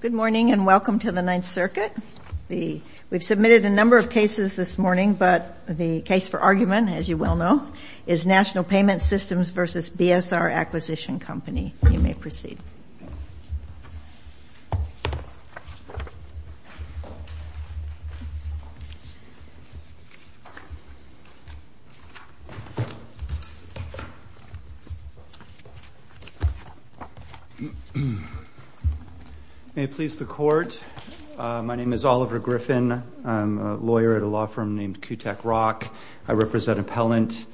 Good morning and welcome to the Ninth Circuit. We've submitted a number of cases this morning, but the case for argument, as you well know, is National Payment Systems v. BSR Acquisition Company. You may proceed. May it please the Court, my name is Oliver Griffin. I'm a lawyer at a law firm named Kutek Rock. I represent Appellant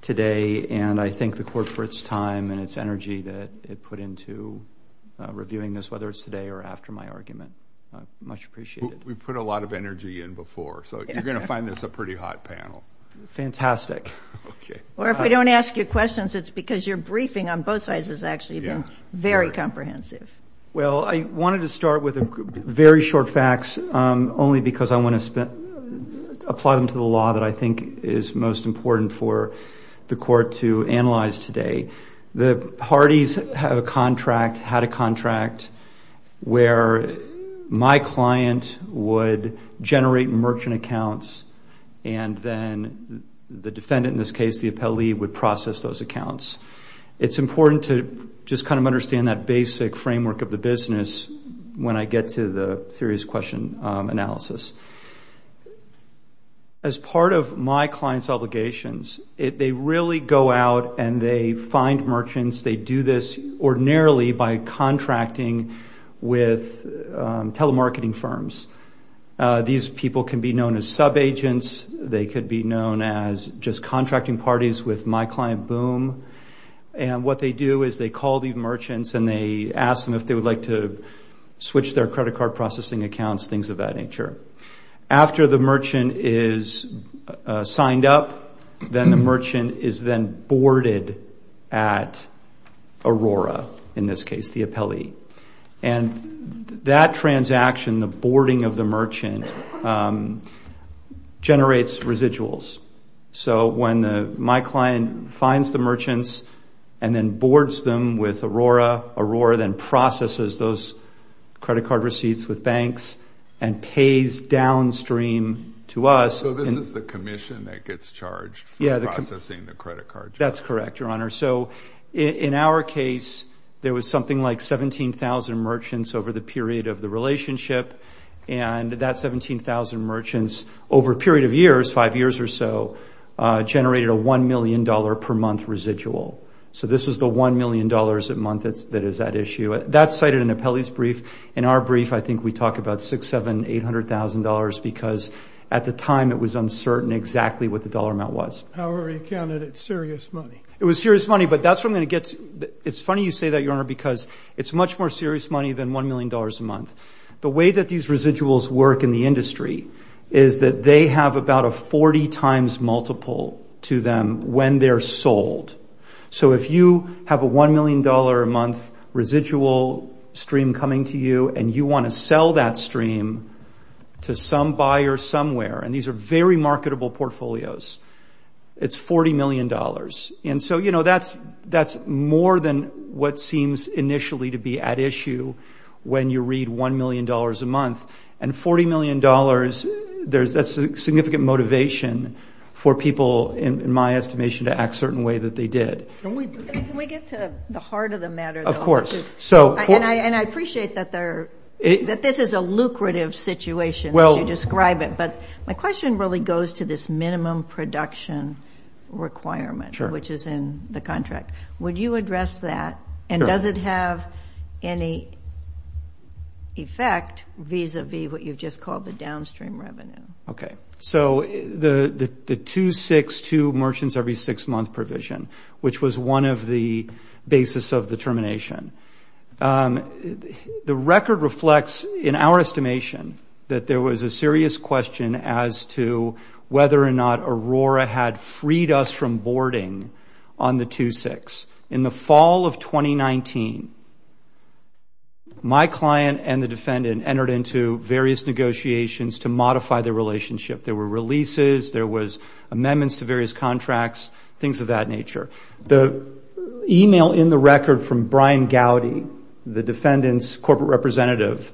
today, and I thank the Court for its time and its energy that it put into reviewing this, whether it's today or after my argument. Much appreciated. We put a lot of energy in before, so you're going to find this a pretty hot panel. Fantastic. Or if we don't ask you questions, it's because your briefing on both sides has actually been very comprehensive. Well, I wanted to start with very short facts, only because I want to apply them to the law that I think is most important for the Court to analyze today. The parties have a contract, had a contract, where my client would generate merchant accounts and then the defendant, in this case the appellee, would process those accounts. It's important to just kind of understand that basic framework of the business when I get to the serious question analysis. As part of my client's obligations, they really go out and they find merchants, they do this ordinarily by contracting with telemarketing firms. These people can be known as subagents. They could be known as just contracting parties with my client, Boom. And what they do is they call the merchants and they ask them if they would like to switch their credit card processing accounts, things of that nature. After the merchant is signed up, then the merchant is then boarded at Aurora, in this case the appellee. And that transaction, the boarding of the merchant, generates residuals. So when my client finds the merchants and then boards them with Aurora, Aurora then processes those credit card receipts with banks and pays downstream to us. So this is the commission that gets charged for processing the credit card? That's correct, Your Honor. So in our case, there was something like 17,000 merchants over the period of the relationship, and that 17,000 merchants over a period of years, five years or so, generated a $1 million per month residual. So this is the $1 million a month that is at issue. That's cited in the appellee's brief. In our brief, I think we talk about $600,000, $700,000, $800,000, because at the time it was uncertain exactly what the dollar amount was. However, you counted it serious money. It was serious money, but that's what I'm going to get to. It's funny you say that, Your Honor, because it's much more serious money than $1 million a month. The way that these residuals work in the industry is that they have about a 40 times multiple to them when they're sold. So if you have a $1 million a month residual stream coming to you and you want to sell that stream to some buyer somewhere, and these are very marketable portfolios, it's $40 million. And so, you know, that's more than what seems initially to be at issue when you read $1 million a month. And $40 million, that's significant motivation for people, in my estimation, to act a certain way that they did. Can we get to the heart of the matter, though? Of course. And I appreciate that this is a lucrative situation as you describe it, but my question really goes to this minimum production requirement, which is in the contract. Would you address that? And does it have any effect vis-à-vis what you've just called the downstream revenue? Okay. So the 2-6-2 merchants every six-month provision, which was one of the basis of the termination, the record reflects in our estimation that there was a serious question as to whether or not Aurora had freed us from boarding on the 2-6. In the fall of 2019, my client and the defendant entered into various negotiations to modify their relationship. There were releases. There was amendments to various contracts, things of that nature. The e-mail in the record from Brian Gowdy, the defendant's corporate representative,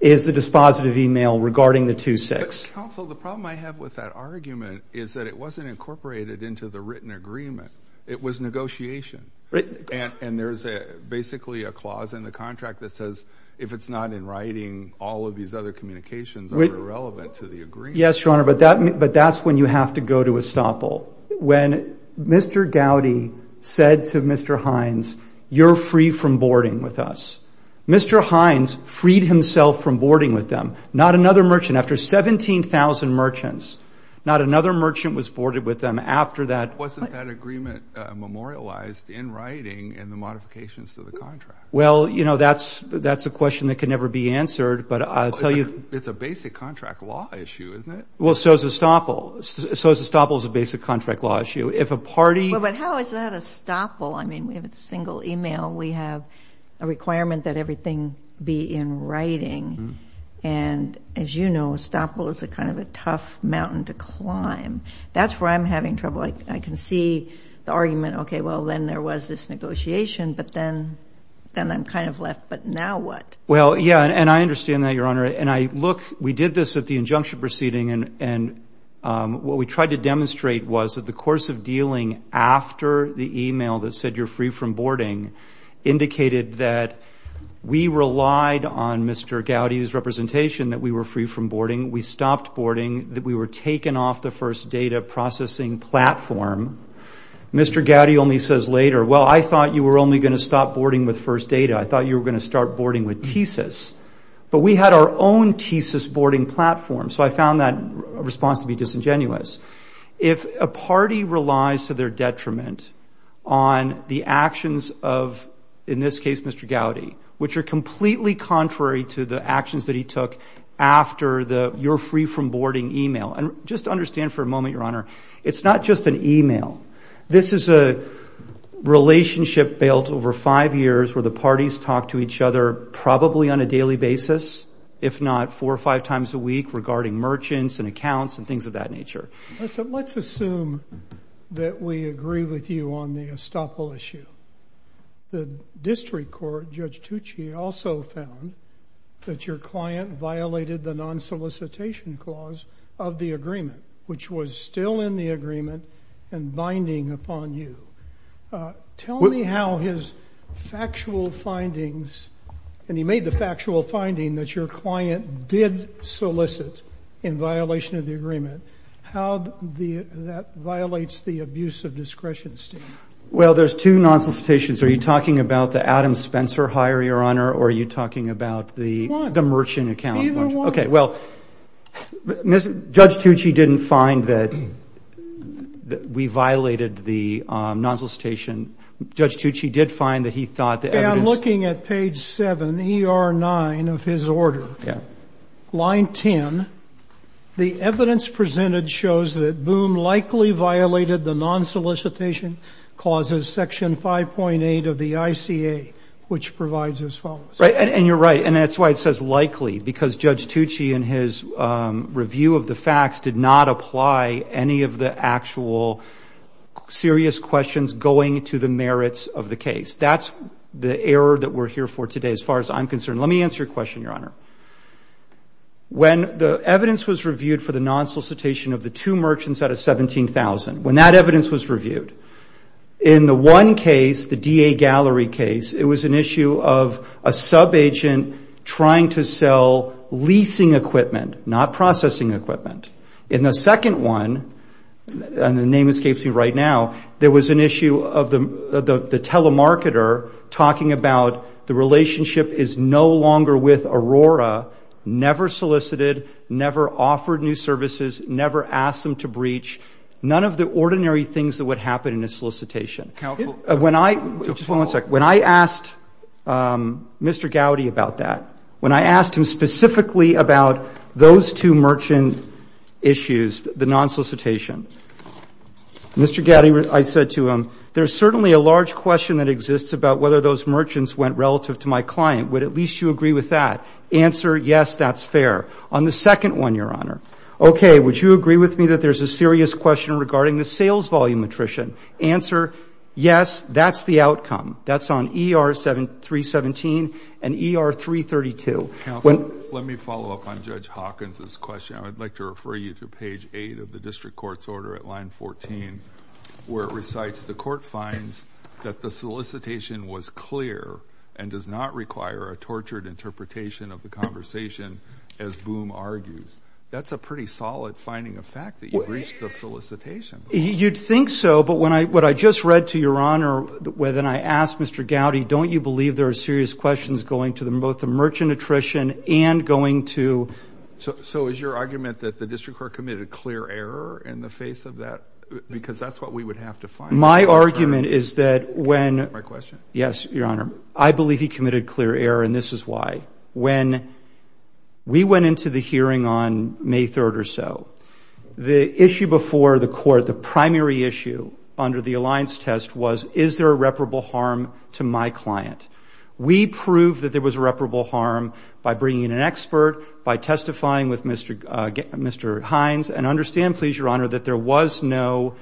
is the dispositive e-mail regarding the 2-6. Counsel, the problem I have with that argument is that it wasn't incorporated into the written agreement. It was negotiation. And there's basically a clause in the contract that says if it's not in writing, all of these other communications are irrelevant to the agreement. Yes, Your Honor, but that's when you have to go to estoppel. When Mr. Gowdy said to Mr. Hines, you're free from boarding with us, Mr. Hines freed himself from boarding with them. Not another merchant after 17,000 merchants, not another merchant was boarded with them after that. Wasn't that agreement memorialized in writing in the modifications to the contract? Well, you know, that's a question that can never be answered, but I'll tell you. It's a basic contract law issue, isn't it? Well, so is estoppel. So estoppel is a basic contract law issue. If a party ---- Well, but how is that estoppel? I mean, if it's single e-mail, we have a requirement that everything be in writing. And as you know, estoppel is kind of a tough mountain to climb. That's where I'm having trouble. I can see the argument, okay, well, then there was this negotiation, but then I'm kind of left, but now what? Well, yeah, and I understand that, Your Honor. We did this at the injunction proceeding, and what we tried to demonstrate was that the course of dealing after the e-mail that said you're free from boarding indicated that we relied on Mr. Gowdy's representation that we were free from boarding, we stopped boarding, that we were taken off the first data processing platform. Mr. Gowdy only says later, well, I thought you were only going to stop boarding with first data. I thought you were going to start boarding with TSIS. But we had our own TSIS boarding platform, so I found that response to be disingenuous. If a party relies to their detriment on the actions of, in this case, Mr. Gowdy, which are completely contrary to the actions that he took after the you're free from boarding e-mail, and just understand for a moment, Your Honor, it's not just an e-mail. This is a relationship built over five years where the parties talk to each other probably on a daily basis, if not four or five times a week regarding merchants and accounts and things of that nature. Let's assume that we agree with you on the estoppel issue. The district court, Judge Tucci, also found that your client violated the non-solicitation clause of the agreement, which was still in the agreement and binding upon you. Tell me how his factual findings, and he made the factual finding that your client did solicit in violation of the agreement, how that violates the abuse of discretion, Steve. Well, there's two non-solicitations. Are you talking about the Adam Spencer hire, Your Honor, or are you talking about the merchant account? Either one. Okay, well, Judge Tucci didn't find that we violated the non-solicitation. Judge Tucci did find that he thought the evidence. Yeah, I'm looking at page 7, ER 9 of his order. Yeah. Line 10, the evidence presented shows that Boom likely violated the non-solicitation clauses, section 5.8 of the ICA, which provides as follows. Right, and you're right, and that's why it says likely, because Judge Tucci, in his review of the facts, did not apply any of the actual serious questions going to the merits of the case. That's the error that we're here for today, as far as I'm concerned. Let me answer your question, Your Honor. When the evidence was reviewed for the non-solicitation of the two merchants out of 17,000, when that evidence was reviewed, in the one case, the DA gallery case, it was an issue of a subagent trying to sell leasing equipment, not processing equipment. In the second one, and the name escapes me right now, there was an issue of the telemarketer talking about the relationship is no longer with Aurora, never solicited, never offered new services, never asked them to breach. None of the ordinary things that would happen in a solicitation. When I asked Mr. Gowdy about that, when I asked him specifically about those two merchant issues, the non-solicitation, Mr. Gowdy, I said to him, there is certainly a large question that exists about whether those merchants went relative to my client. Would at least you agree with that? Answer, yes, that's fair. On the second one, Your Honor, okay, would you agree with me that there's a serious question regarding the sales volume attrition? Answer, yes, that's the outcome. That's on ER 317 and ER 332. Counsel, let me follow up on Judge Hawkins' question. I would like to refer you to page 8 of the district court's order at line 14, where it recites, the court finds that the solicitation was clear and does not require a tortured interpretation of the conversation, as Boom argues. That's a pretty solid finding of fact that you've reached the solicitation. You'd think so, but what I just read to Your Honor, when I asked Mr. Gowdy, don't you believe there are serious questions going to both the merchant attrition and going to. So is your argument that the district court committed a clear error in the face of that, because that's what we would have to find. My argument is that when. My question. Yes, Your Honor. I believe he committed clear error, and this is why. When we went into the hearing on May 3rd or so, the issue before the court, the primary issue under the alliance test was, is there a reparable harm to my client? We proved that there was a reparable harm by bringing in an expert, by testifying with Mr. Hines, and understand, please, Your Honor, that there was no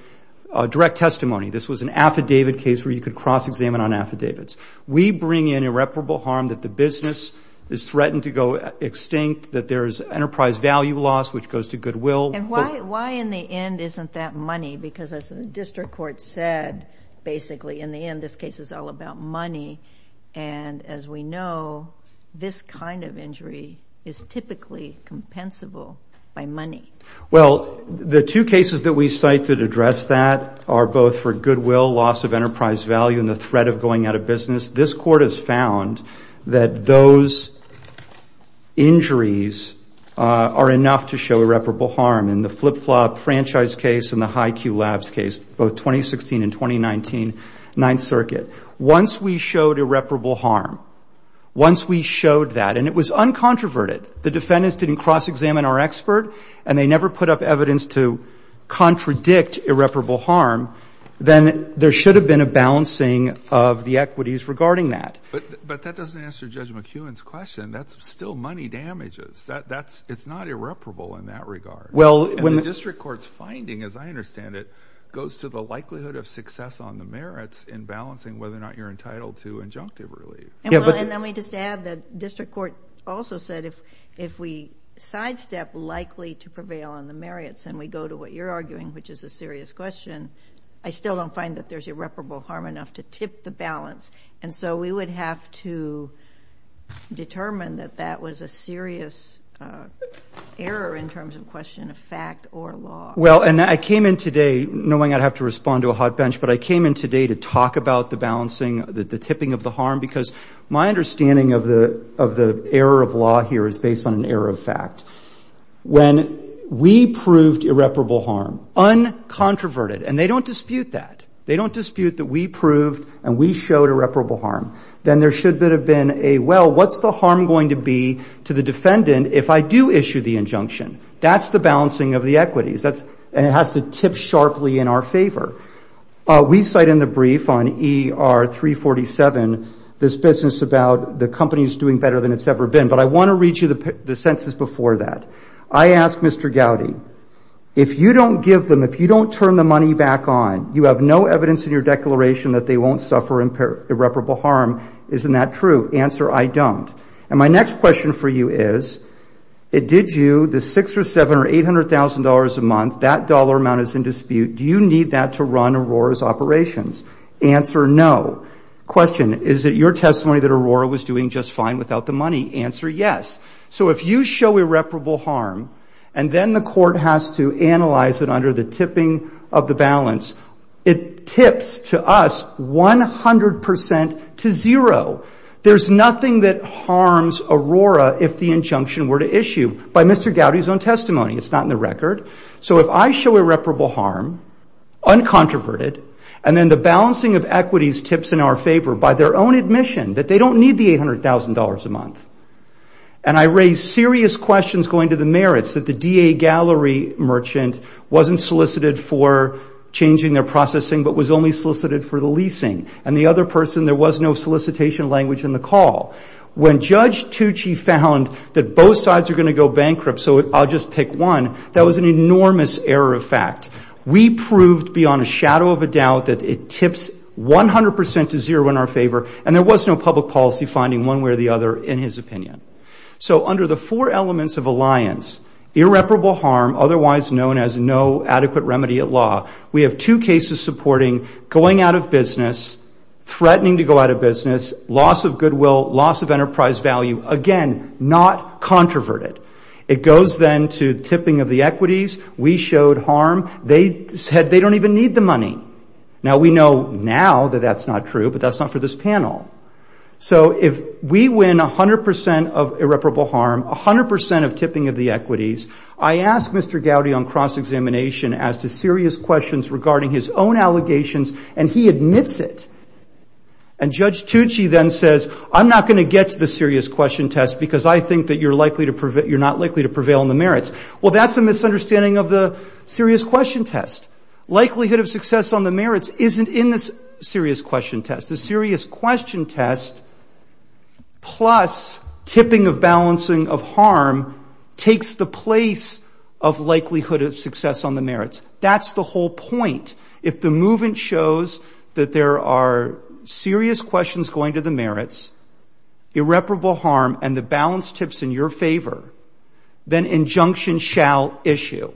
direct testimony. This was an affidavit case where you could cross-examine on affidavits. We bring in irreparable harm that the business is threatened to go extinct, that there is enterprise value loss, which goes to goodwill. And why in the end isn't that money? Because as the district court said, basically, in the end, this case is all about money. And as we know, this kind of injury is typically compensable by money. Well, the two cases that we cite that address that are both for goodwill, loss of enterprise value, and the threat of going out of business, this court has found that those injuries are enough to show irreparable harm. In the flip-flop franchise case and the high-Q labs case, both 2016 and 2019, Ninth Circuit, once we showed irreparable harm, once we showed that, and it was uncontroverted, the defendants didn't cross-examine our expert, and they never put up evidence to contradict irreparable harm, then there should have been a balancing of the equities regarding that. But that doesn't answer Judge McEwen's question. That's still money damages. It's not irreparable in that regard. And the district court's finding, as I understand it, goes to the likelihood of success on the merits in balancing whether or not you're entitled to injunctive relief. And let me just add that district court also said if we sidestep likely to prevail on the merits and we go to what you're arguing, which is a serious question, I still don't find that there's irreparable harm enough to tip the balance. And so we would have to determine that that was a serious error in terms of question of fact or law. Well, and I came in today knowing I'd have to respond to a hot bench, but I came in today to talk about the balancing, the tipping of the harm, because my understanding of the error of law here is based on an error of fact. When we proved irreparable harm, uncontroverted, and they don't dispute that, they don't dispute that we proved and we showed irreparable harm, then there should have been a, well, what's the harm going to be to the defendant if I do issue the injunction? That's the balancing of the equities. And it has to tip sharply in our favor. We cite in the brief on ER 347 this business about the company's doing better than it's ever been. But I want to read you the census before that. I ask Mr. Gowdy, if you don't give them, if you don't turn the money back on, you have no evidence in your declaration that they won't suffer irreparable harm, isn't that true? Answer, I don't. And my next question for you is, did you, the $600,000 or $700,000 or $800,000 a month, that dollar amount is in dispute, do you need that to run Aurora's operations? Answer, no. Question, is it your testimony that Aurora was doing just fine without the money? Answer, yes. So if you show irreparable harm and then the court has to analyze it under the tipping of the balance, it tips to us 100% to zero. There's nothing that harms Aurora if the injunction were to issue. By Mr. Gowdy's own testimony, it's not in the record. So if I show irreparable harm, uncontroverted, and then the balancing of equities tips in our favor by their own admission that they don't need the $800,000 a month, and I raise serious questions going to the merits that the DA gallery merchant wasn't solicited for changing their processing but was only solicited for the leasing and the other person there was no solicitation language in the call. When Judge Tucci found that both sides are going to go bankrupt so I'll just pick one, that was an enormous error of fact. We proved beyond a shadow of a doubt that it tips 100% to zero in our favor and there was no public policy finding one way or the other in his opinion. So under the four elements of alliance, irreparable harm, otherwise known as no adequate remedy at law, we have two cases supporting going out of business, threatening to go out of business, loss of goodwill, loss of enterprise value, again, not controverted. It goes then to tipping of the equities. We showed harm. They said they don't even need the money. Now we know now that that's not true, but that's not for this panel. So if we win 100% of irreparable harm, 100% of tipping of the equities, I ask Mr. Gowdy on cross-examination as to serious questions regarding his own allegations and he admits it, and Judge Tucci then says, I'm not going to get to the serious question test because I think that you're not likely to prevail in the merits. Well, that's a misunderstanding of the serious question test. Likelihood of success on the merits isn't in the serious question test. The serious question test plus tipping of balancing of harm takes the place of likelihood of success on the merits. That's the whole point. If the movement shows that there are serious questions going to the merits, irreparable harm, and the balance tips in your favor, then injunction shall issue.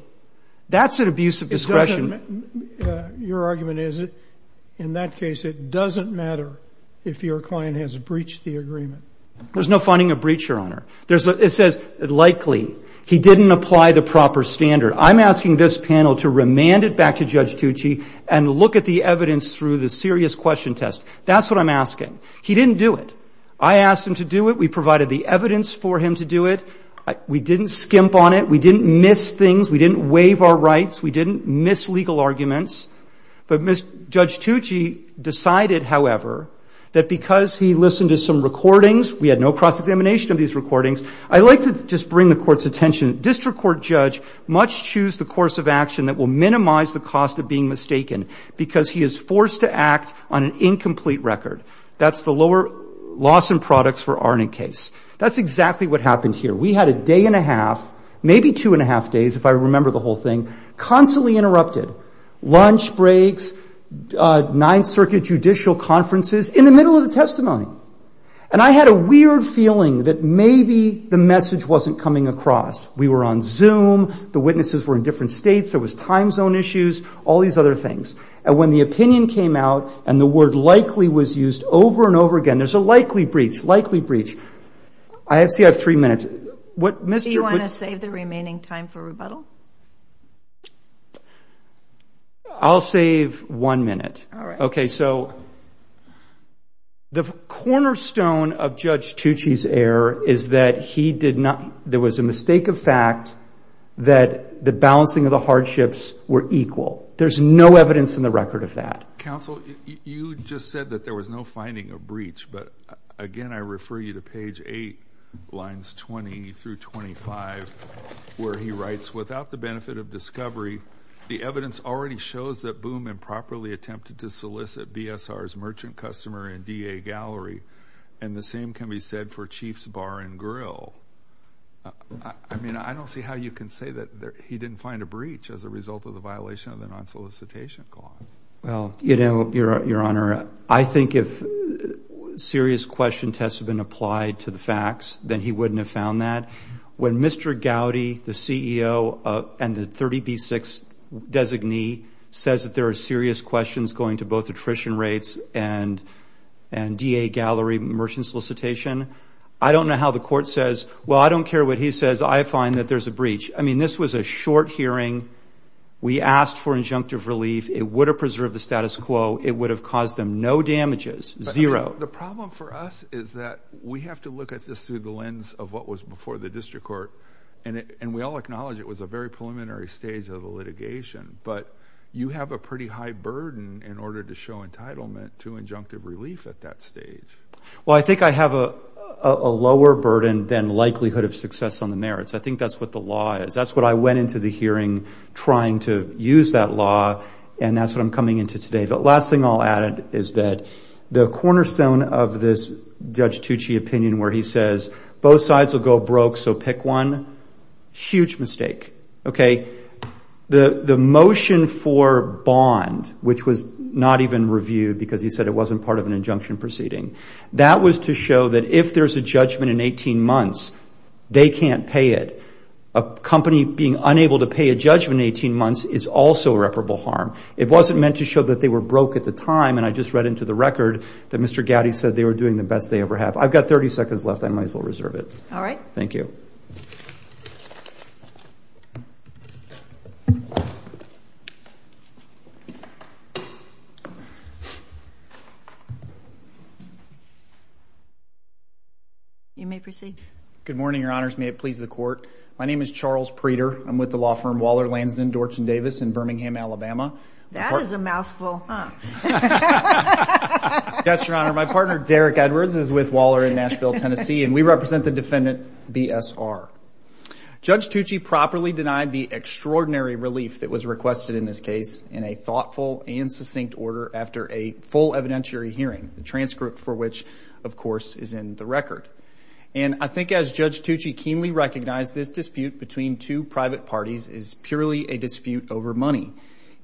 That's an abuse of discretion. Your argument is in that case it doesn't matter if your client has breached the agreement. There's no finding a breach, Your Honor. It says likely. He didn't apply the proper standard. I'm asking this panel to remand it back to Judge Tucci and look at the evidence through the serious question test. That's what I'm asking. He didn't do it. I asked him to do it. We provided the evidence for him to do it. We didn't skimp on it. We didn't miss things. We didn't waive our rights. We didn't miss legal arguments. But Judge Tucci decided, however, that because he listened to some recordings, we had no cross-examination of these recordings. I'd like to just bring the Court's attention. District Court judge must choose the course of action that will minimize the cost of being mistaken because he is forced to act on an incomplete record. That's the lower loss in products for Arnett case. That's exactly what happened here. We had a day and a half, maybe two and a half days, if I remember the whole thing, constantly interrupted. Lunch breaks, Ninth Circuit judicial conferences, in the middle of the testimony. And I had a weird feeling that maybe the message wasn't coming across. We were on Zoom. The witnesses were in different states. There was time zone issues, all these other things. And when the opinion came out and the word likely was used over and over again, there's a likely breach, likely breach. I see I have three minutes. Do you want to save the remaining time for rebuttal? I'll save one minute. All right. Okay, so the cornerstone of Judge Tucci's error is that he did not, there was a mistake of fact that the balancing of the hardships were equal. There's no evidence in the record of that. Counsel, you just said that there was no finding of breach. But, again, I refer you to page 8, lines 20 through 25, where he writes, without the benefit of discovery, the evidence already shows that Boom improperly attempted to solicit BSR's merchant customer in DA Gallery. And the same can be said for Chiefs Bar and Grill. I mean, I don't see how you can say that he didn't find a breach as a result of the violation of the non-solicitation clause. Well, you know, Your Honor, I think if serious question tests have been applied to the facts, then he wouldn't have found that. When Mr. Gowdy, the CEO and the 30B6 designee, says that there are serious questions going to both attrition rates and DA Gallery merchant solicitation, I don't know how the court says, well, I don't care what he says. I find that there's a breach. I mean, this was a short hearing. We asked for injunctive relief. It would have preserved the status quo. It would have caused them no damages, zero. The problem for us is that we have to look at this through the lens of what was before the district court. And we all acknowledge it was a very preliminary stage of the litigation. But you have a pretty high burden in order to show entitlement to injunctive relief at that stage. Well, I think I have a lower burden than likelihood of success on the merits. I think that's what the law is. That's what I went into the hearing trying to use that law. And that's what I'm coming into today. The last thing I'll add is that the cornerstone of this Judge Tucci opinion where he says both sides will go broke, so pick one, huge mistake. The motion for bond, which was not even reviewed because he said it wasn't part of an injunction proceeding, that was to show that if there's a judgment in 18 months, they can't pay it. A company being unable to pay a judgment in 18 months is also irreparable harm. It wasn't meant to show that they were broke at the time. And I just read into the record that Mr. Gowdy said they were doing the best they ever have. I've got 30 seconds left. I might as well reserve it. All right. Thank you. You may proceed. Good morning, Your Honors. May it please the Court. My name is Charles Preter. I'm with the law firm Waller, Lansden, Dorch and Davis in Birmingham, Alabama. That is a mouthful, huh? Yes, Your Honor. My partner, Derek Edwards, is with Waller in Nashville, Tennessee, and we represent the defendant, B.S.R. Judge Tucci properly denied the extraordinary relief that was requested in this case in a thoughtful and succinct order after a full evidentiary hearing, the transcript for which, of course, is in the record. And I think as Judge Tucci keenly recognized, this dispute between two private parties is purely a dispute over money.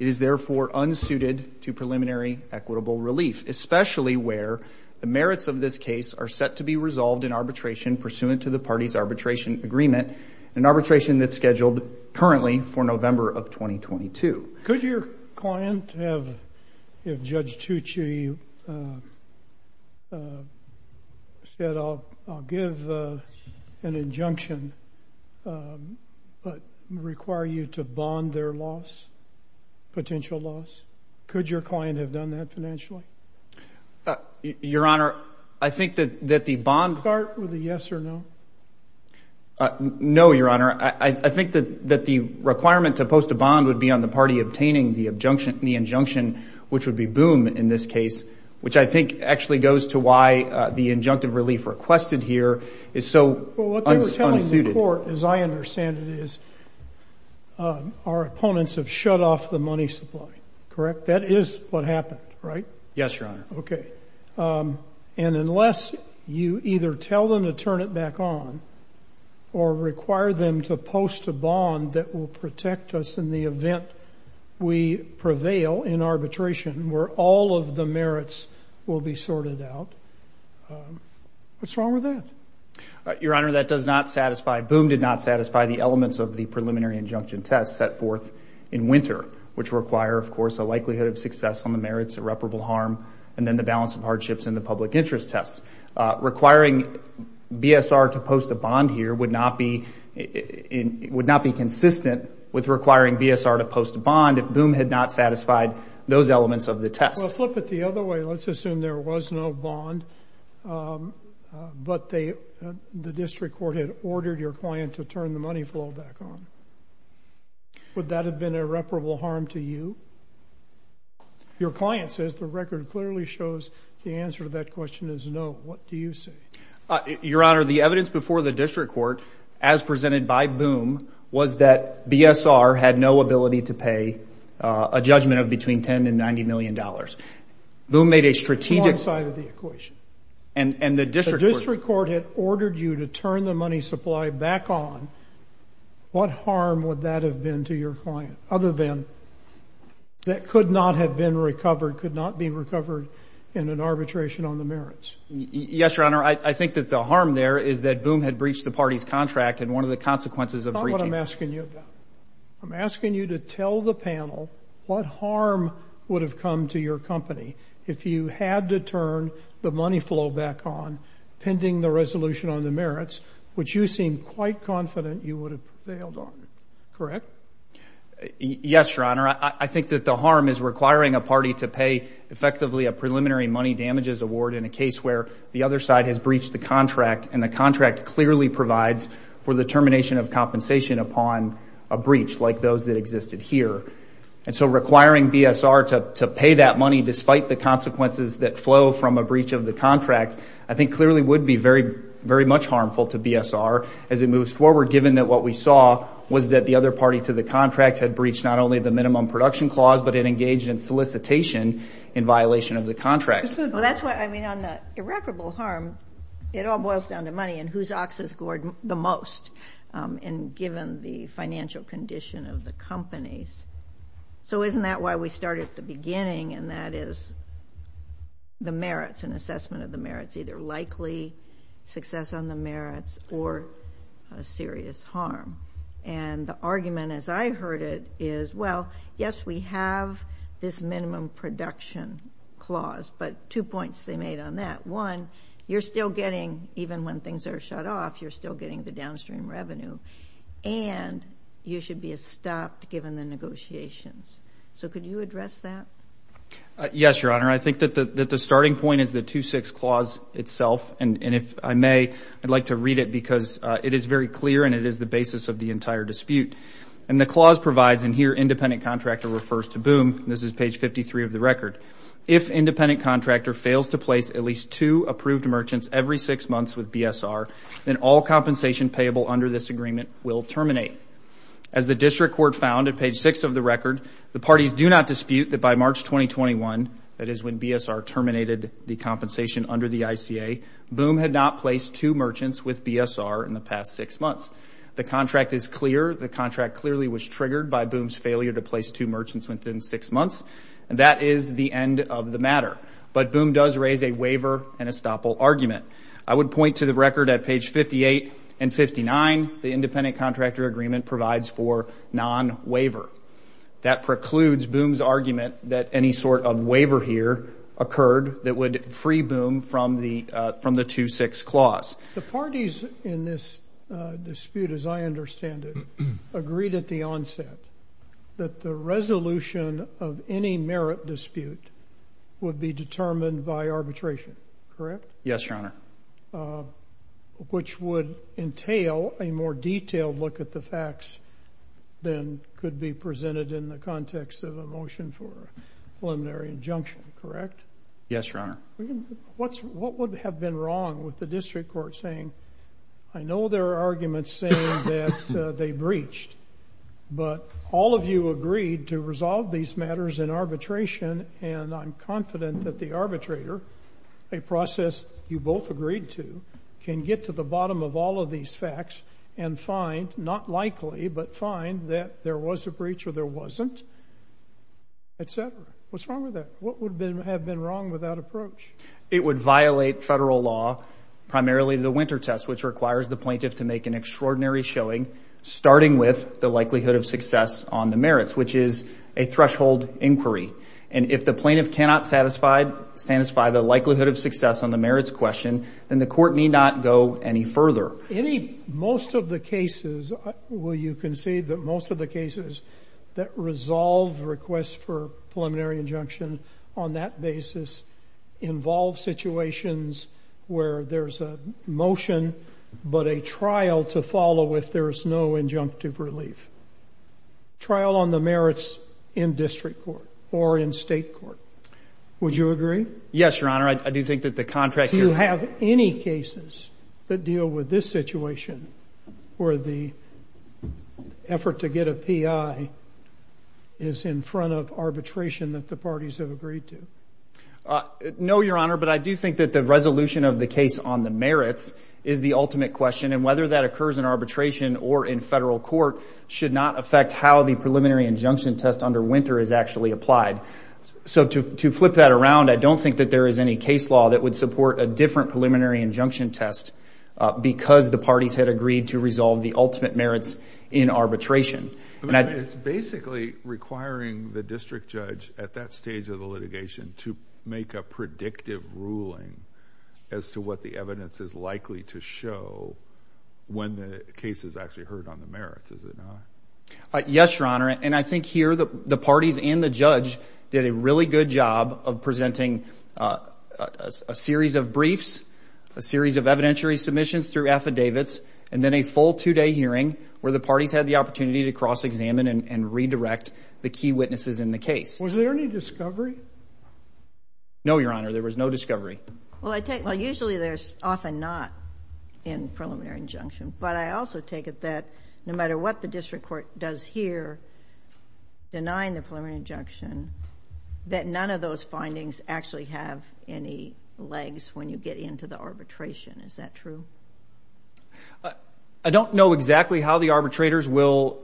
It is, therefore, unsuited to preliminary equitable relief, especially where the merits of this case are set to be resolved in arbitration pursuant to the party's arbitration agreement, an arbitration that's scheduled currently for November of 2022. Could your client have, if Judge Tucci said, I'll give an injunction but require you to bond their loss, potential loss, could your client have done that financially? Your Honor, I think that the bond. Start with a yes or no. No, Your Honor. I think that the requirement to post a bond would be on the party obtaining the injunction, which would be boom in this case, which I think actually goes to why the injunctive relief requested here is so unsuited. Well, what they were telling the court, as I understand it, is our opponents have shut off the money supply, correct? That is what happened, right? Yes, Your Honor. Okay. And unless you either tell them to turn it back on or require them to post a bond that will protect us in the event we prevail in arbitration where all of the merits will be sorted out, what's wrong with that? Your Honor, that does not satisfy. Boom did not satisfy the elements of the preliminary injunction test set forth in winter, which require, of course, a likelihood of success on the merits, irreparable harm, and then the balance of hardships in the public interest test. Requiring BSR to post a bond here would not be consistent with requiring BSR to post a bond if boom had not satisfied those elements of the test. Well, flip it the other way. Let's assume there was no bond, but the district court had ordered your client to turn the money flow back on. Would that have been irreparable harm to you? Your client says the record clearly shows the answer to that question is no. What do you say? Your Honor, the evidence before the district court, as presented by boom, was that BSR had no ability to pay a judgment of between $10 million and $90 million. Boom made a strategic... Wrong side of the equation. The district court had ordered you to turn the money supply back on. What harm would that have been to your client other than that could not have been recovered, could not be recovered in an arbitration on the merits? Yes, Your Honor. I think that the harm there is that boom had breached the party's contract, and one of the consequences of breaching... That's not what I'm asking you about. I'm asking you to tell the panel what harm would have come to your company if you had to turn the money flow back on pending the resolution on the merits, which you seem quite confident you would have failed on, correct? Yes, Your Honor. I think that the harm is requiring a party to pay effectively a preliminary money damages award in a case where the other side has breached the contract, and the contract clearly provides for the termination of compensation upon a breach, like those that existed here. And so requiring BSR to pay that money, despite the consequences that flow from a breach of the contract, I think clearly would be very much harmful to BSR as it moves forward, given that what we saw was that the other party to the contract had breached not only the minimum production clause, but it engaged in solicitation in violation of the contract. Well, that's why, I mean, on the irreparable harm, it all boils down to money and whose ox is gored the most, and given the financial condition of the companies. So isn't that why we start at the beginning, and that is the merits, an assessment of the merits, either likely success on the merits or a serious harm. And the argument, as I heard it, is, well, yes, we have this minimum production clause, but two points they made on that. One, you're still getting, even when things are shut off, you're still getting the downstream revenue, and you should be stopped given the negotiations. So could you address that? Yes, Your Honor. I think that the starting point is the 2-6 clause itself, and if I may, I'd like to read it because it is very clear and it is the basis of the entire dispute. And the clause provides, and here independent contractor refers to BOOM, and this is page 53 of the record, if independent contractor fails to place at least two approved merchants every six months with BSR, then all compensation payable under this agreement will terminate. As the district court found at page 6 of the record, the parties do not dispute that by March 2021, that is when BSR terminated the compensation under the ICA, BOOM had not placed two merchants with BSR in the past six months. The contract is clear. The contract clearly was triggered by BOOM's failure to place two merchants within six months, and that is the end of the matter. But BOOM does raise a waiver and estoppel argument. I would point to the record at page 58 and 59, the independent contractor agreement provides for non-waiver. That precludes BOOM's argument that any sort of waiver here occurred that would free BOOM from the 2-6 clause. The parties in this dispute, as I understand it, agreed at the onset that the resolution of any merit dispute would be determined by arbitration, correct? Yes, Your Honor. Which would entail a more detailed look at the facts than could be presented in the context of a motion for preliminary injunction, correct? Yes, Your Honor. What would have been wrong with the district court saying, I know there are arguments saying that they breached, but all of you agreed to resolve these matters in arbitration, and I'm confident that the arbitrator, a process you both agreed to, can get to the bottom of all of these facts and find, not likely, but find that there was a breach or there wasn't, et cetera? What's wrong with that? What would have been wrong with that approach? It would violate federal law, primarily the winter test, which requires the plaintiff to make an extraordinary showing, starting with the likelihood of success on the merits, which is a threshold inquiry. And if the plaintiff cannot satisfy the likelihood of success on the merits question, then the court need not go any further. Any, most of the cases, will you concede that most of the cases that resolve requests for preliminary injunction on that basis involve situations where there's a motion but a trial to follow if there's no injunctive relief? Trial on the merits in district court or in state court. Would you agree? Yes, Your Honor. I do think that the contract here... Do you have any cases that deal with this situation where the effort to get a PI is in front of arbitration that the parties have agreed to? No, Your Honor, but I do think that the resolution of the case on the merits is the ultimate question, and whether that occurs in arbitration or in federal court should not affect how the preliminary injunction test under winter is actually applied. So to flip that around, I don't think that there is any case law that would support a different preliminary injunction test because the parties had agreed to resolve the ultimate merits in arbitration. It's basically requiring the district judge at that stage of the litigation to make a predictive ruling as to what the evidence is likely to show when the case is actually heard on the merits, is it not? Yes, Your Honor, and I think here the parties and the judge did a really good job of presenting a series of briefs, a series of evidentiary submissions through affidavits, and then a full two-day hearing where the parties had the opportunity to cross-examine and redirect the key witnesses in the case. Was there any discovery? No, Your Honor, there was no discovery. Well, usually there's often not in preliminary injunction, but I also take it that no matter what the district court does here denying the preliminary injunction, that none of those findings actually have any legs when you get into the arbitration. Is that true? I don't know exactly how the arbitrators will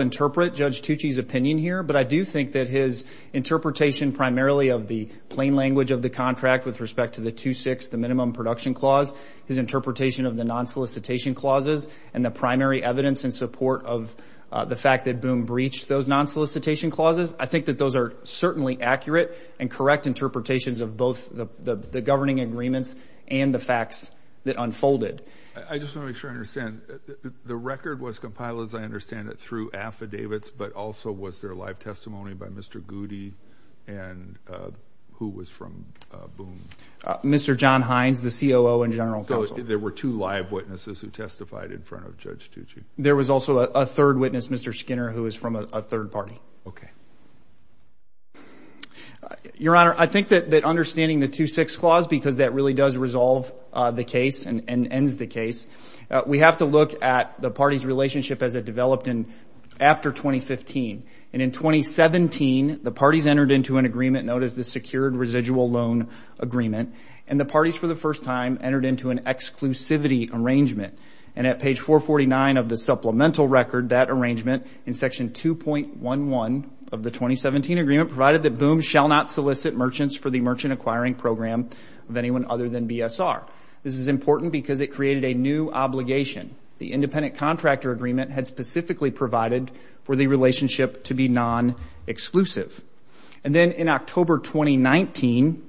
interpret Judge Tucci's opinion here, but I do think that his interpretation primarily of the plain language of the contract with respect to the 2-6, the minimum production clause, his interpretation of the non-solicitation clauses and the primary evidence in support of the fact that Boone breached those non-solicitation clauses, I think that those are certainly accurate and correct interpretations of both the governing agreements and the facts that unfolded. I just want to make sure I understand. The record was compiled, as I understand it, through affidavits, but also was there live testimony by Mr. Goody and who was from Boone? Mr. John Hines, the COO and general counsel. So there were two live witnesses who testified in front of Judge Tucci. There was also a third witness, Mr. Skinner, who was from a third party. Okay. Your Honor, I think that understanding the 2-6 clause, because that really does resolve the case and ends the case, we have to look at the parties' relationship as it developed after 2015. And in 2017, the parties entered into an agreement known as the Secured Residual Loan Agreement, and the parties for the first time entered into an exclusivity arrangement. And at page 449 of the supplemental record, that arrangement in section 2.11 of the 2017 agreement provided that Boone shall not solicit merchants for the merchant acquiring program of anyone other than BSR. This is important because it created a new obligation. The independent contractor agreement had specifically provided for the relationship to be non-exclusive. And then in October 2019,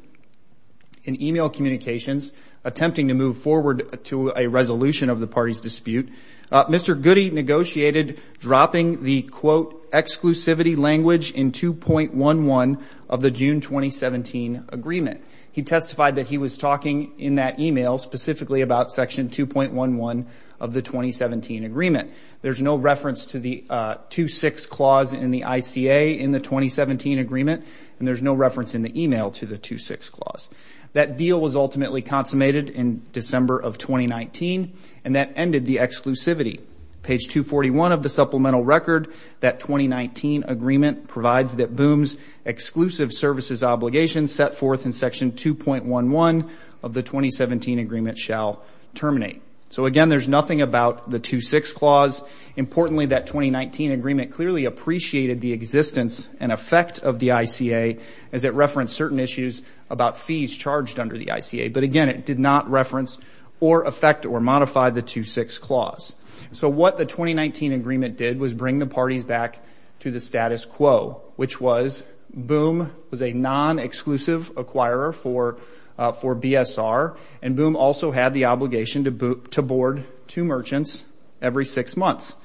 in email communications, attempting to move forward to a resolution of the parties' dispute, Mr. Goody negotiated dropping the, quote, exclusivity language in 2.11 of the June 2017 agreement. He testified that he was talking in that email specifically about section 2.11 of the 2017 agreement. There's no reference to the 2-6 clause in the ICA in the 2017 agreement, and there's no reference in the email to the 2-6 clause. That deal was ultimately consummated in December of 2019, and that ended the exclusivity. Page 241 of the supplemental record, that 2019 agreement provides that Boone's exclusive services obligation set forth in section 2.11 of the 2017 agreement shall terminate. So, again, there's nothing about the 2-6 clause. Importantly, that 2019 agreement clearly appreciated the existence and effect of the ICA as it referenced certain issues about fees charged under the ICA. But, again, it did not reference or affect or modify the 2-6 clause. So what the 2019 agreement did was bring the parties back to the status quo, which was Boone was a non-exclusive acquirer for BSR, and Boone also had the obligation to board two merchants every six months.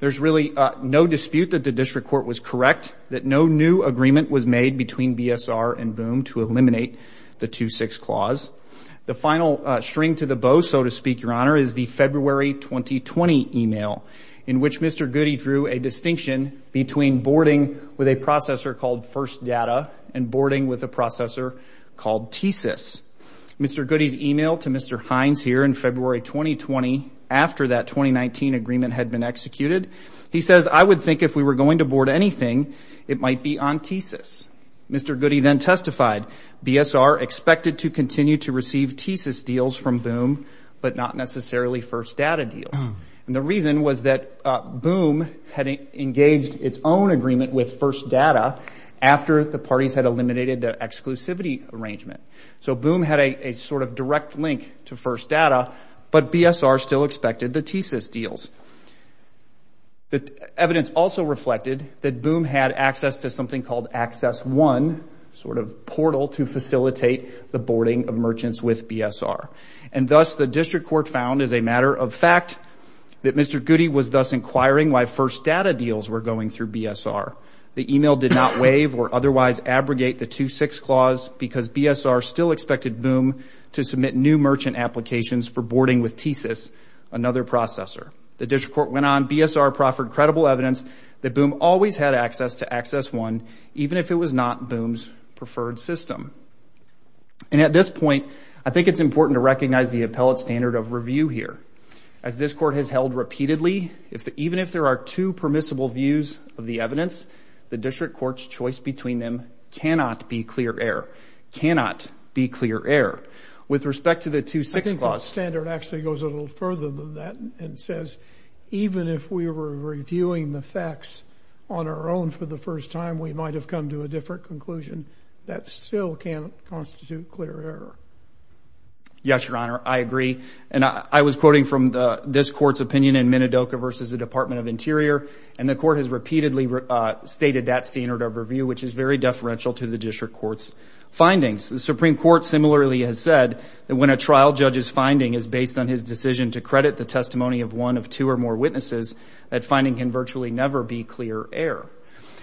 There's really no dispute that the district court was correct, that no new agreement was made between BSR and Boone to eliminate the 2-6 clause. The final string to the bow, so to speak, Your Honor, is the February 2020 email in which Mr. Goody drew a distinction between boarding with a processor called First Data and boarding with a processor called TSIS. Mr. Goody's email to Mr. Hines here in February 2020, after that 2019 agreement had been executed, he says, I would think if we were going to board anything, it might be on TSIS. Mr. Goody then testified, BSR expected to continue to receive TSIS deals from Boone, but not necessarily First Data deals. And the reason was that Boone had engaged its own agreement with First Data after the parties had eliminated the exclusivity arrangement. So Boone had a sort of direct link to First Data, but BSR still expected the TSIS deals. The evidence also reflected that Boone had access to something called Access One, a sort of portal to facilitate the boarding of merchants with BSR. And thus, the district court found, as a matter of fact, that Mr. Goody was thus inquiring why First Data deals were going through BSR. The email did not waive or otherwise abrogate the 2-6 clause because BSR still expected Boone to submit new merchant applications for boarding with TSIS, another processor. The district court went on, BSR proffered credible evidence that Boone always had access to Access One, even if it was not Boone's preferred system. And at this point, I think it's important to recognize the appellate standard of review here. As this court has held repeatedly, even if there are two permissible views of the evidence, the district court's choice between them cannot be clear error. Cannot be clear error. With respect to the 2-6 clause. The standard actually goes a little further than that and says, even if we were reviewing the facts on our own for the first time, we might have come to a different conclusion. That still can't constitute clear error. Yes, Your Honor, I agree. And I was quoting from this court's opinion in Minidoka versus the Department of Interior, and the court has repeatedly stated that standard of review, which is very deferential to the district court's findings. The Supreme Court similarly has said that when a trial judge's finding is based on his decision to credit the testimony of one of two or more witnesses, that finding can virtually never be clear error.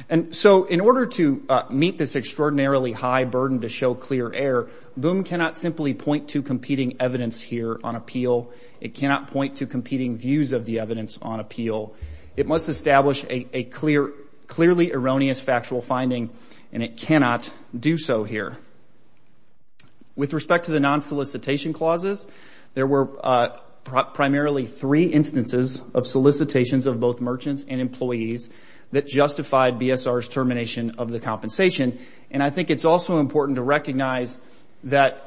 And so in order to meet this extraordinarily high burden to show clear error, Boone cannot simply point to competing evidence here on appeal. It cannot point to competing views of the evidence on appeal. It must establish a clearly erroneous factual finding, and it cannot do so here. With respect to the non-solicitation clauses, there were primarily three instances of solicitations of both merchants and employees that justified BSR's termination of the compensation. And I think it's also important to recognize that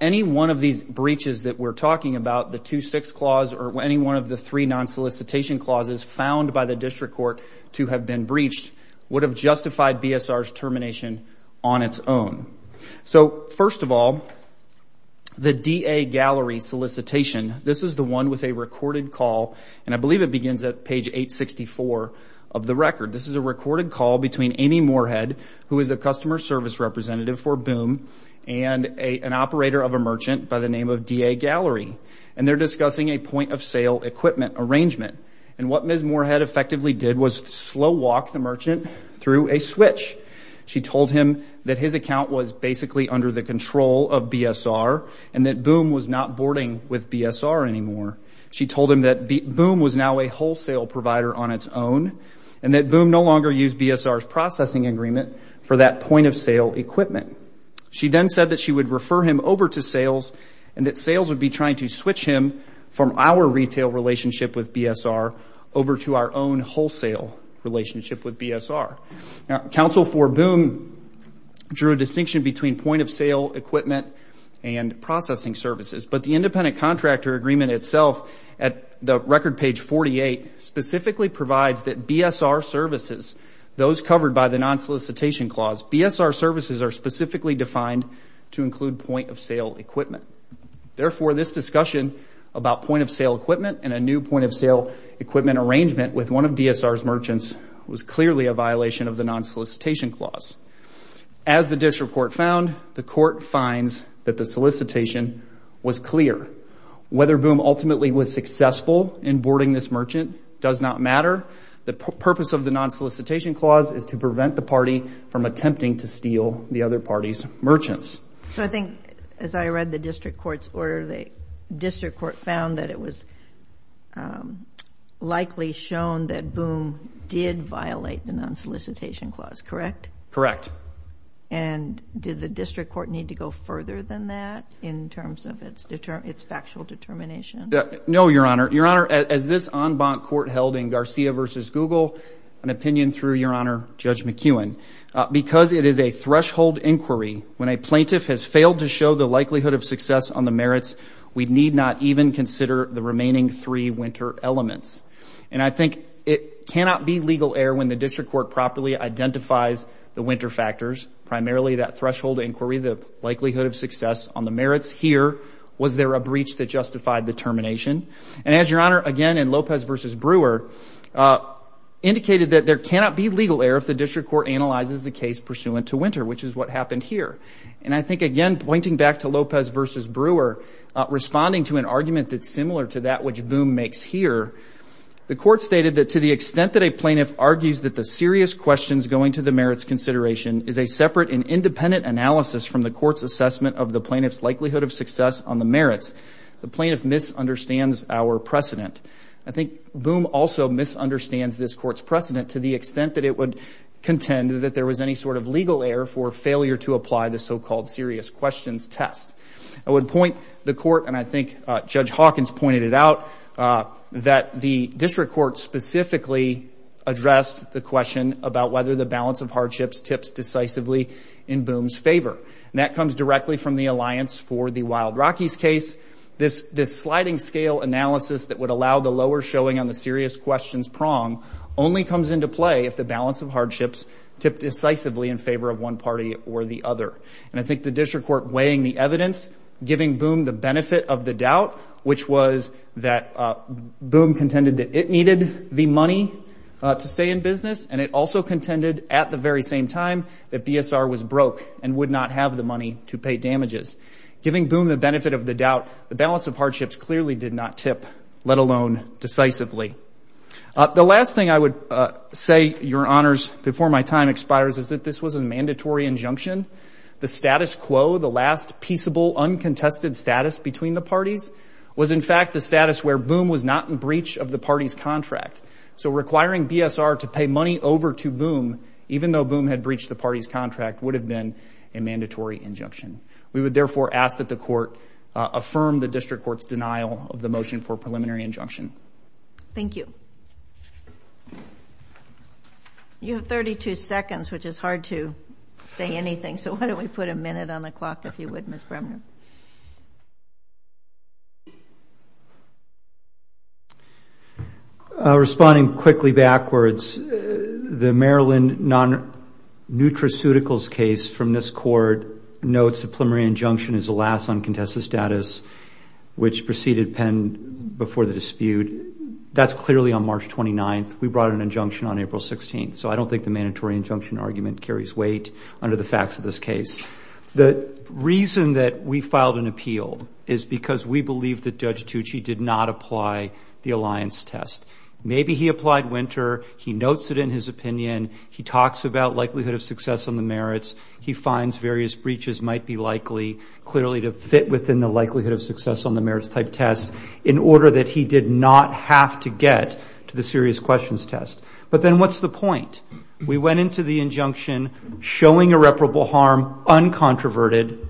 any one of these breaches that we're talking about, the 2-6 clause or any one of the three non-solicitation clauses found by the district court to have been breached, would have justified BSR's termination on its own. So first of all, the DA Gallery solicitation, this is the one with a recorded call, and I believe it begins at page 864 of the record. This is a recorded call between Amy Moorhead, who is a customer service representative for Boone, and an operator of a merchant by the name of DA Gallery, and they're discussing a point-of-sale equipment arrangement. And what Ms. Moorhead effectively did was slow walk the merchant through a switch. She told him that his account was basically under the control of BSR and that Boone was not boarding with BSR anymore. She told him that Boone was now a wholesale provider on its own and that Boone no longer used BSR's processing agreement for that point-of-sale equipment. She then said that she would refer him over to sales and that sales would be trying to switch him from our retail relationship with BSR over to our own wholesale relationship with BSR. Now, counsel for Boone drew a distinction between point-of-sale equipment and processing services, but the independent contractor agreement itself at the record page 48 specifically provides that BSR services, those covered by the non-solicitation clause, BSR services are specifically defined to include point-of-sale equipment. Therefore, this discussion about point-of-sale equipment and a new point-of-sale equipment arrangement with one of BSR's merchants was clearly a violation of the non-solicitation clause. As the district court found, the court finds that the solicitation was clear. Whether Boone ultimately was successful in boarding this merchant does not matter. The purpose of the non-solicitation clause is to prevent the party from attempting to steal the other party's merchants. So I think, as I read the district court's order, the district court found that it was likely shown that Boone did violate the non-solicitation clause, correct? Correct. And did the district court need to go further than that in terms of its factual determination? No, Your Honor. Your Honor, as this en banc court held in Garcia v. Google, an opinion through Your Honor, Judge McEwen, because it is a threshold inquiry, when a plaintiff has failed to show the likelihood of success on the merits, we need not even consider the remaining three winter elements. And I think it cannot be legal error when the district court properly identifies the winter factors, primarily that threshold inquiry, the likelihood of success on the merits. Here, was there a breach that justified the termination? And as Your Honor, again, in Lopez v. Brewer, indicated that there cannot be legal error if the district court analyzes the case pursuant to winter, which is what happened here. And I think, again, pointing back to Lopez v. Brewer, responding to an argument that's similar to that which Boone makes here, the court stated that to the extent that a plaintiff argues that the serious questions going to the merits consideration is a separate and independent analysis from the court's assessment of the plaintiff's likelihood of success on the merits, the plaintiff misunderstands our precedent. I think Boone also misunderstands this court's precedent to the extent that it would contend that there was any sort of legal error for failure to apply the so-called serious questions test. I would point the court, and I think Judge Hawkins pointed it out, that the district court specifically addressed the question about whether the balance of hardships tips decisively in Boone's favor. And that comes directly from the alliance for the Wild Rockies case. This sliding scale analysis that would allow the lower showing on the serious questions prong only comes into play if the balance of hardships tip decisively in favor of one party or the other. And I think the district court weighing the evidence, giving Boone the benefit of the doubt, which was that Boone contended that it needed the money to stay in business, and it also contended at the very same time that BSR was broke and would not have the money to pay damages. Giving Boone the benefit of the doubt, the balance of hardships clearly did not tip, let alone decisively. The last thing I would say, Your Honors, before my time expires, is that this was a mandatory injunction. The status quo, the last peaceable, uncontested status between the parties, was in fact the status where Boone was not in breach of the party's contract. So requiring BSR to pay money over to Boone, even though Boone had breached the party's contract, would have been a mandatory injunction. We would therefore ask that the court affirm the district court's denial of the motion for preliminary injunction. Thank you. You have 32 seconds, which is hard to say anything, so why don't we put a minute on the clock, if you would, Ms. Bremner. Responding quickly backwards, the Maryland non-nutraceuticals case from this court notes that preliminary injunction is the last uncontested status, which preceded Penn before the dispute. That's clearly on March 29th. We brought an injunction on April 16th, so I don't think the mandatory injunction argument carries weight under the facts of this case. The reason that we filed an appeal is because we believe that Judge Tucci did not apply the alliance test. Maybe he applied winter, he notes it in his opinion, he talks about likelihood of success on the merits, he finds various breaches might be likely, clearly to fit within the likelihood of success on the merits type test, in order that he did not have to get to the serious questions test. But then what's the point? We went into the injunction showing irreparable harm, uncontroverted.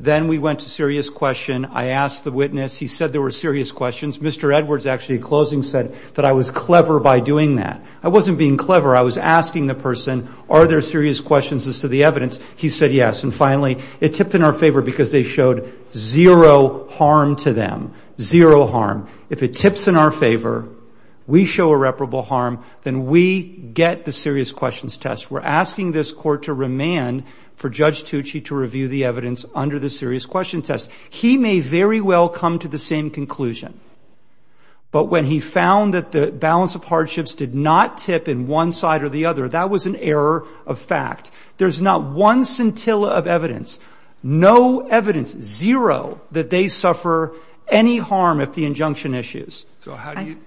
Then we went to serious question. I asked the witness. He said there were serious questions. Mr. Edwards actually, in closing, said that I was clever by doing that. I wasn't being clever. I was asking the person, are there serious questions as to the evidence? He said yes. And finally, it tipped in our favor because they showed zero harm to them, zero harm. If it tips in our favor, we show irreparable harm, then we get the serious questions test. We're asking this court to remand for Judge Tucci to review the evidence under the serious question test. He may very well come to the same conclusion. But when he found that the balance of hardships did not tip in one side or the other, that was an error of fact. There's not one scintilla of evidence, no evidence, zero, that they suffer any harm if the injunction issues. Go ahead.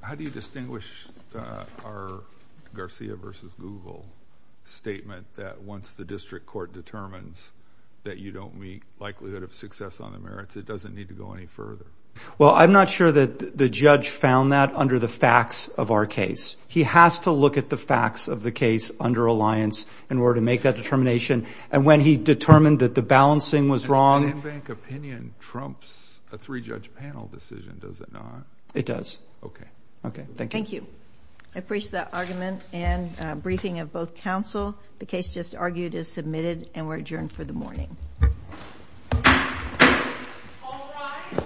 How do you distinguish our Garcia versus Google statement that once the district court determines that you don't meet likelihood of success on the merits, it doesn't need to go any further? Well, I'm not sure that the judge found that under the facts of our case. He has to look at the facts of the case under alliance in order to make that determination. And when he determined that the balancing was wrong. An in-bank opinion trumps a three-judge panel decision, does it not? It does. Okay. Okay. Thank you. Thank you. I appreciate that argument and briefing of both counsel. The case just argued is submitted and we're adjourned for the morning. All rise.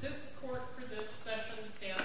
This court for this session stands adjourned.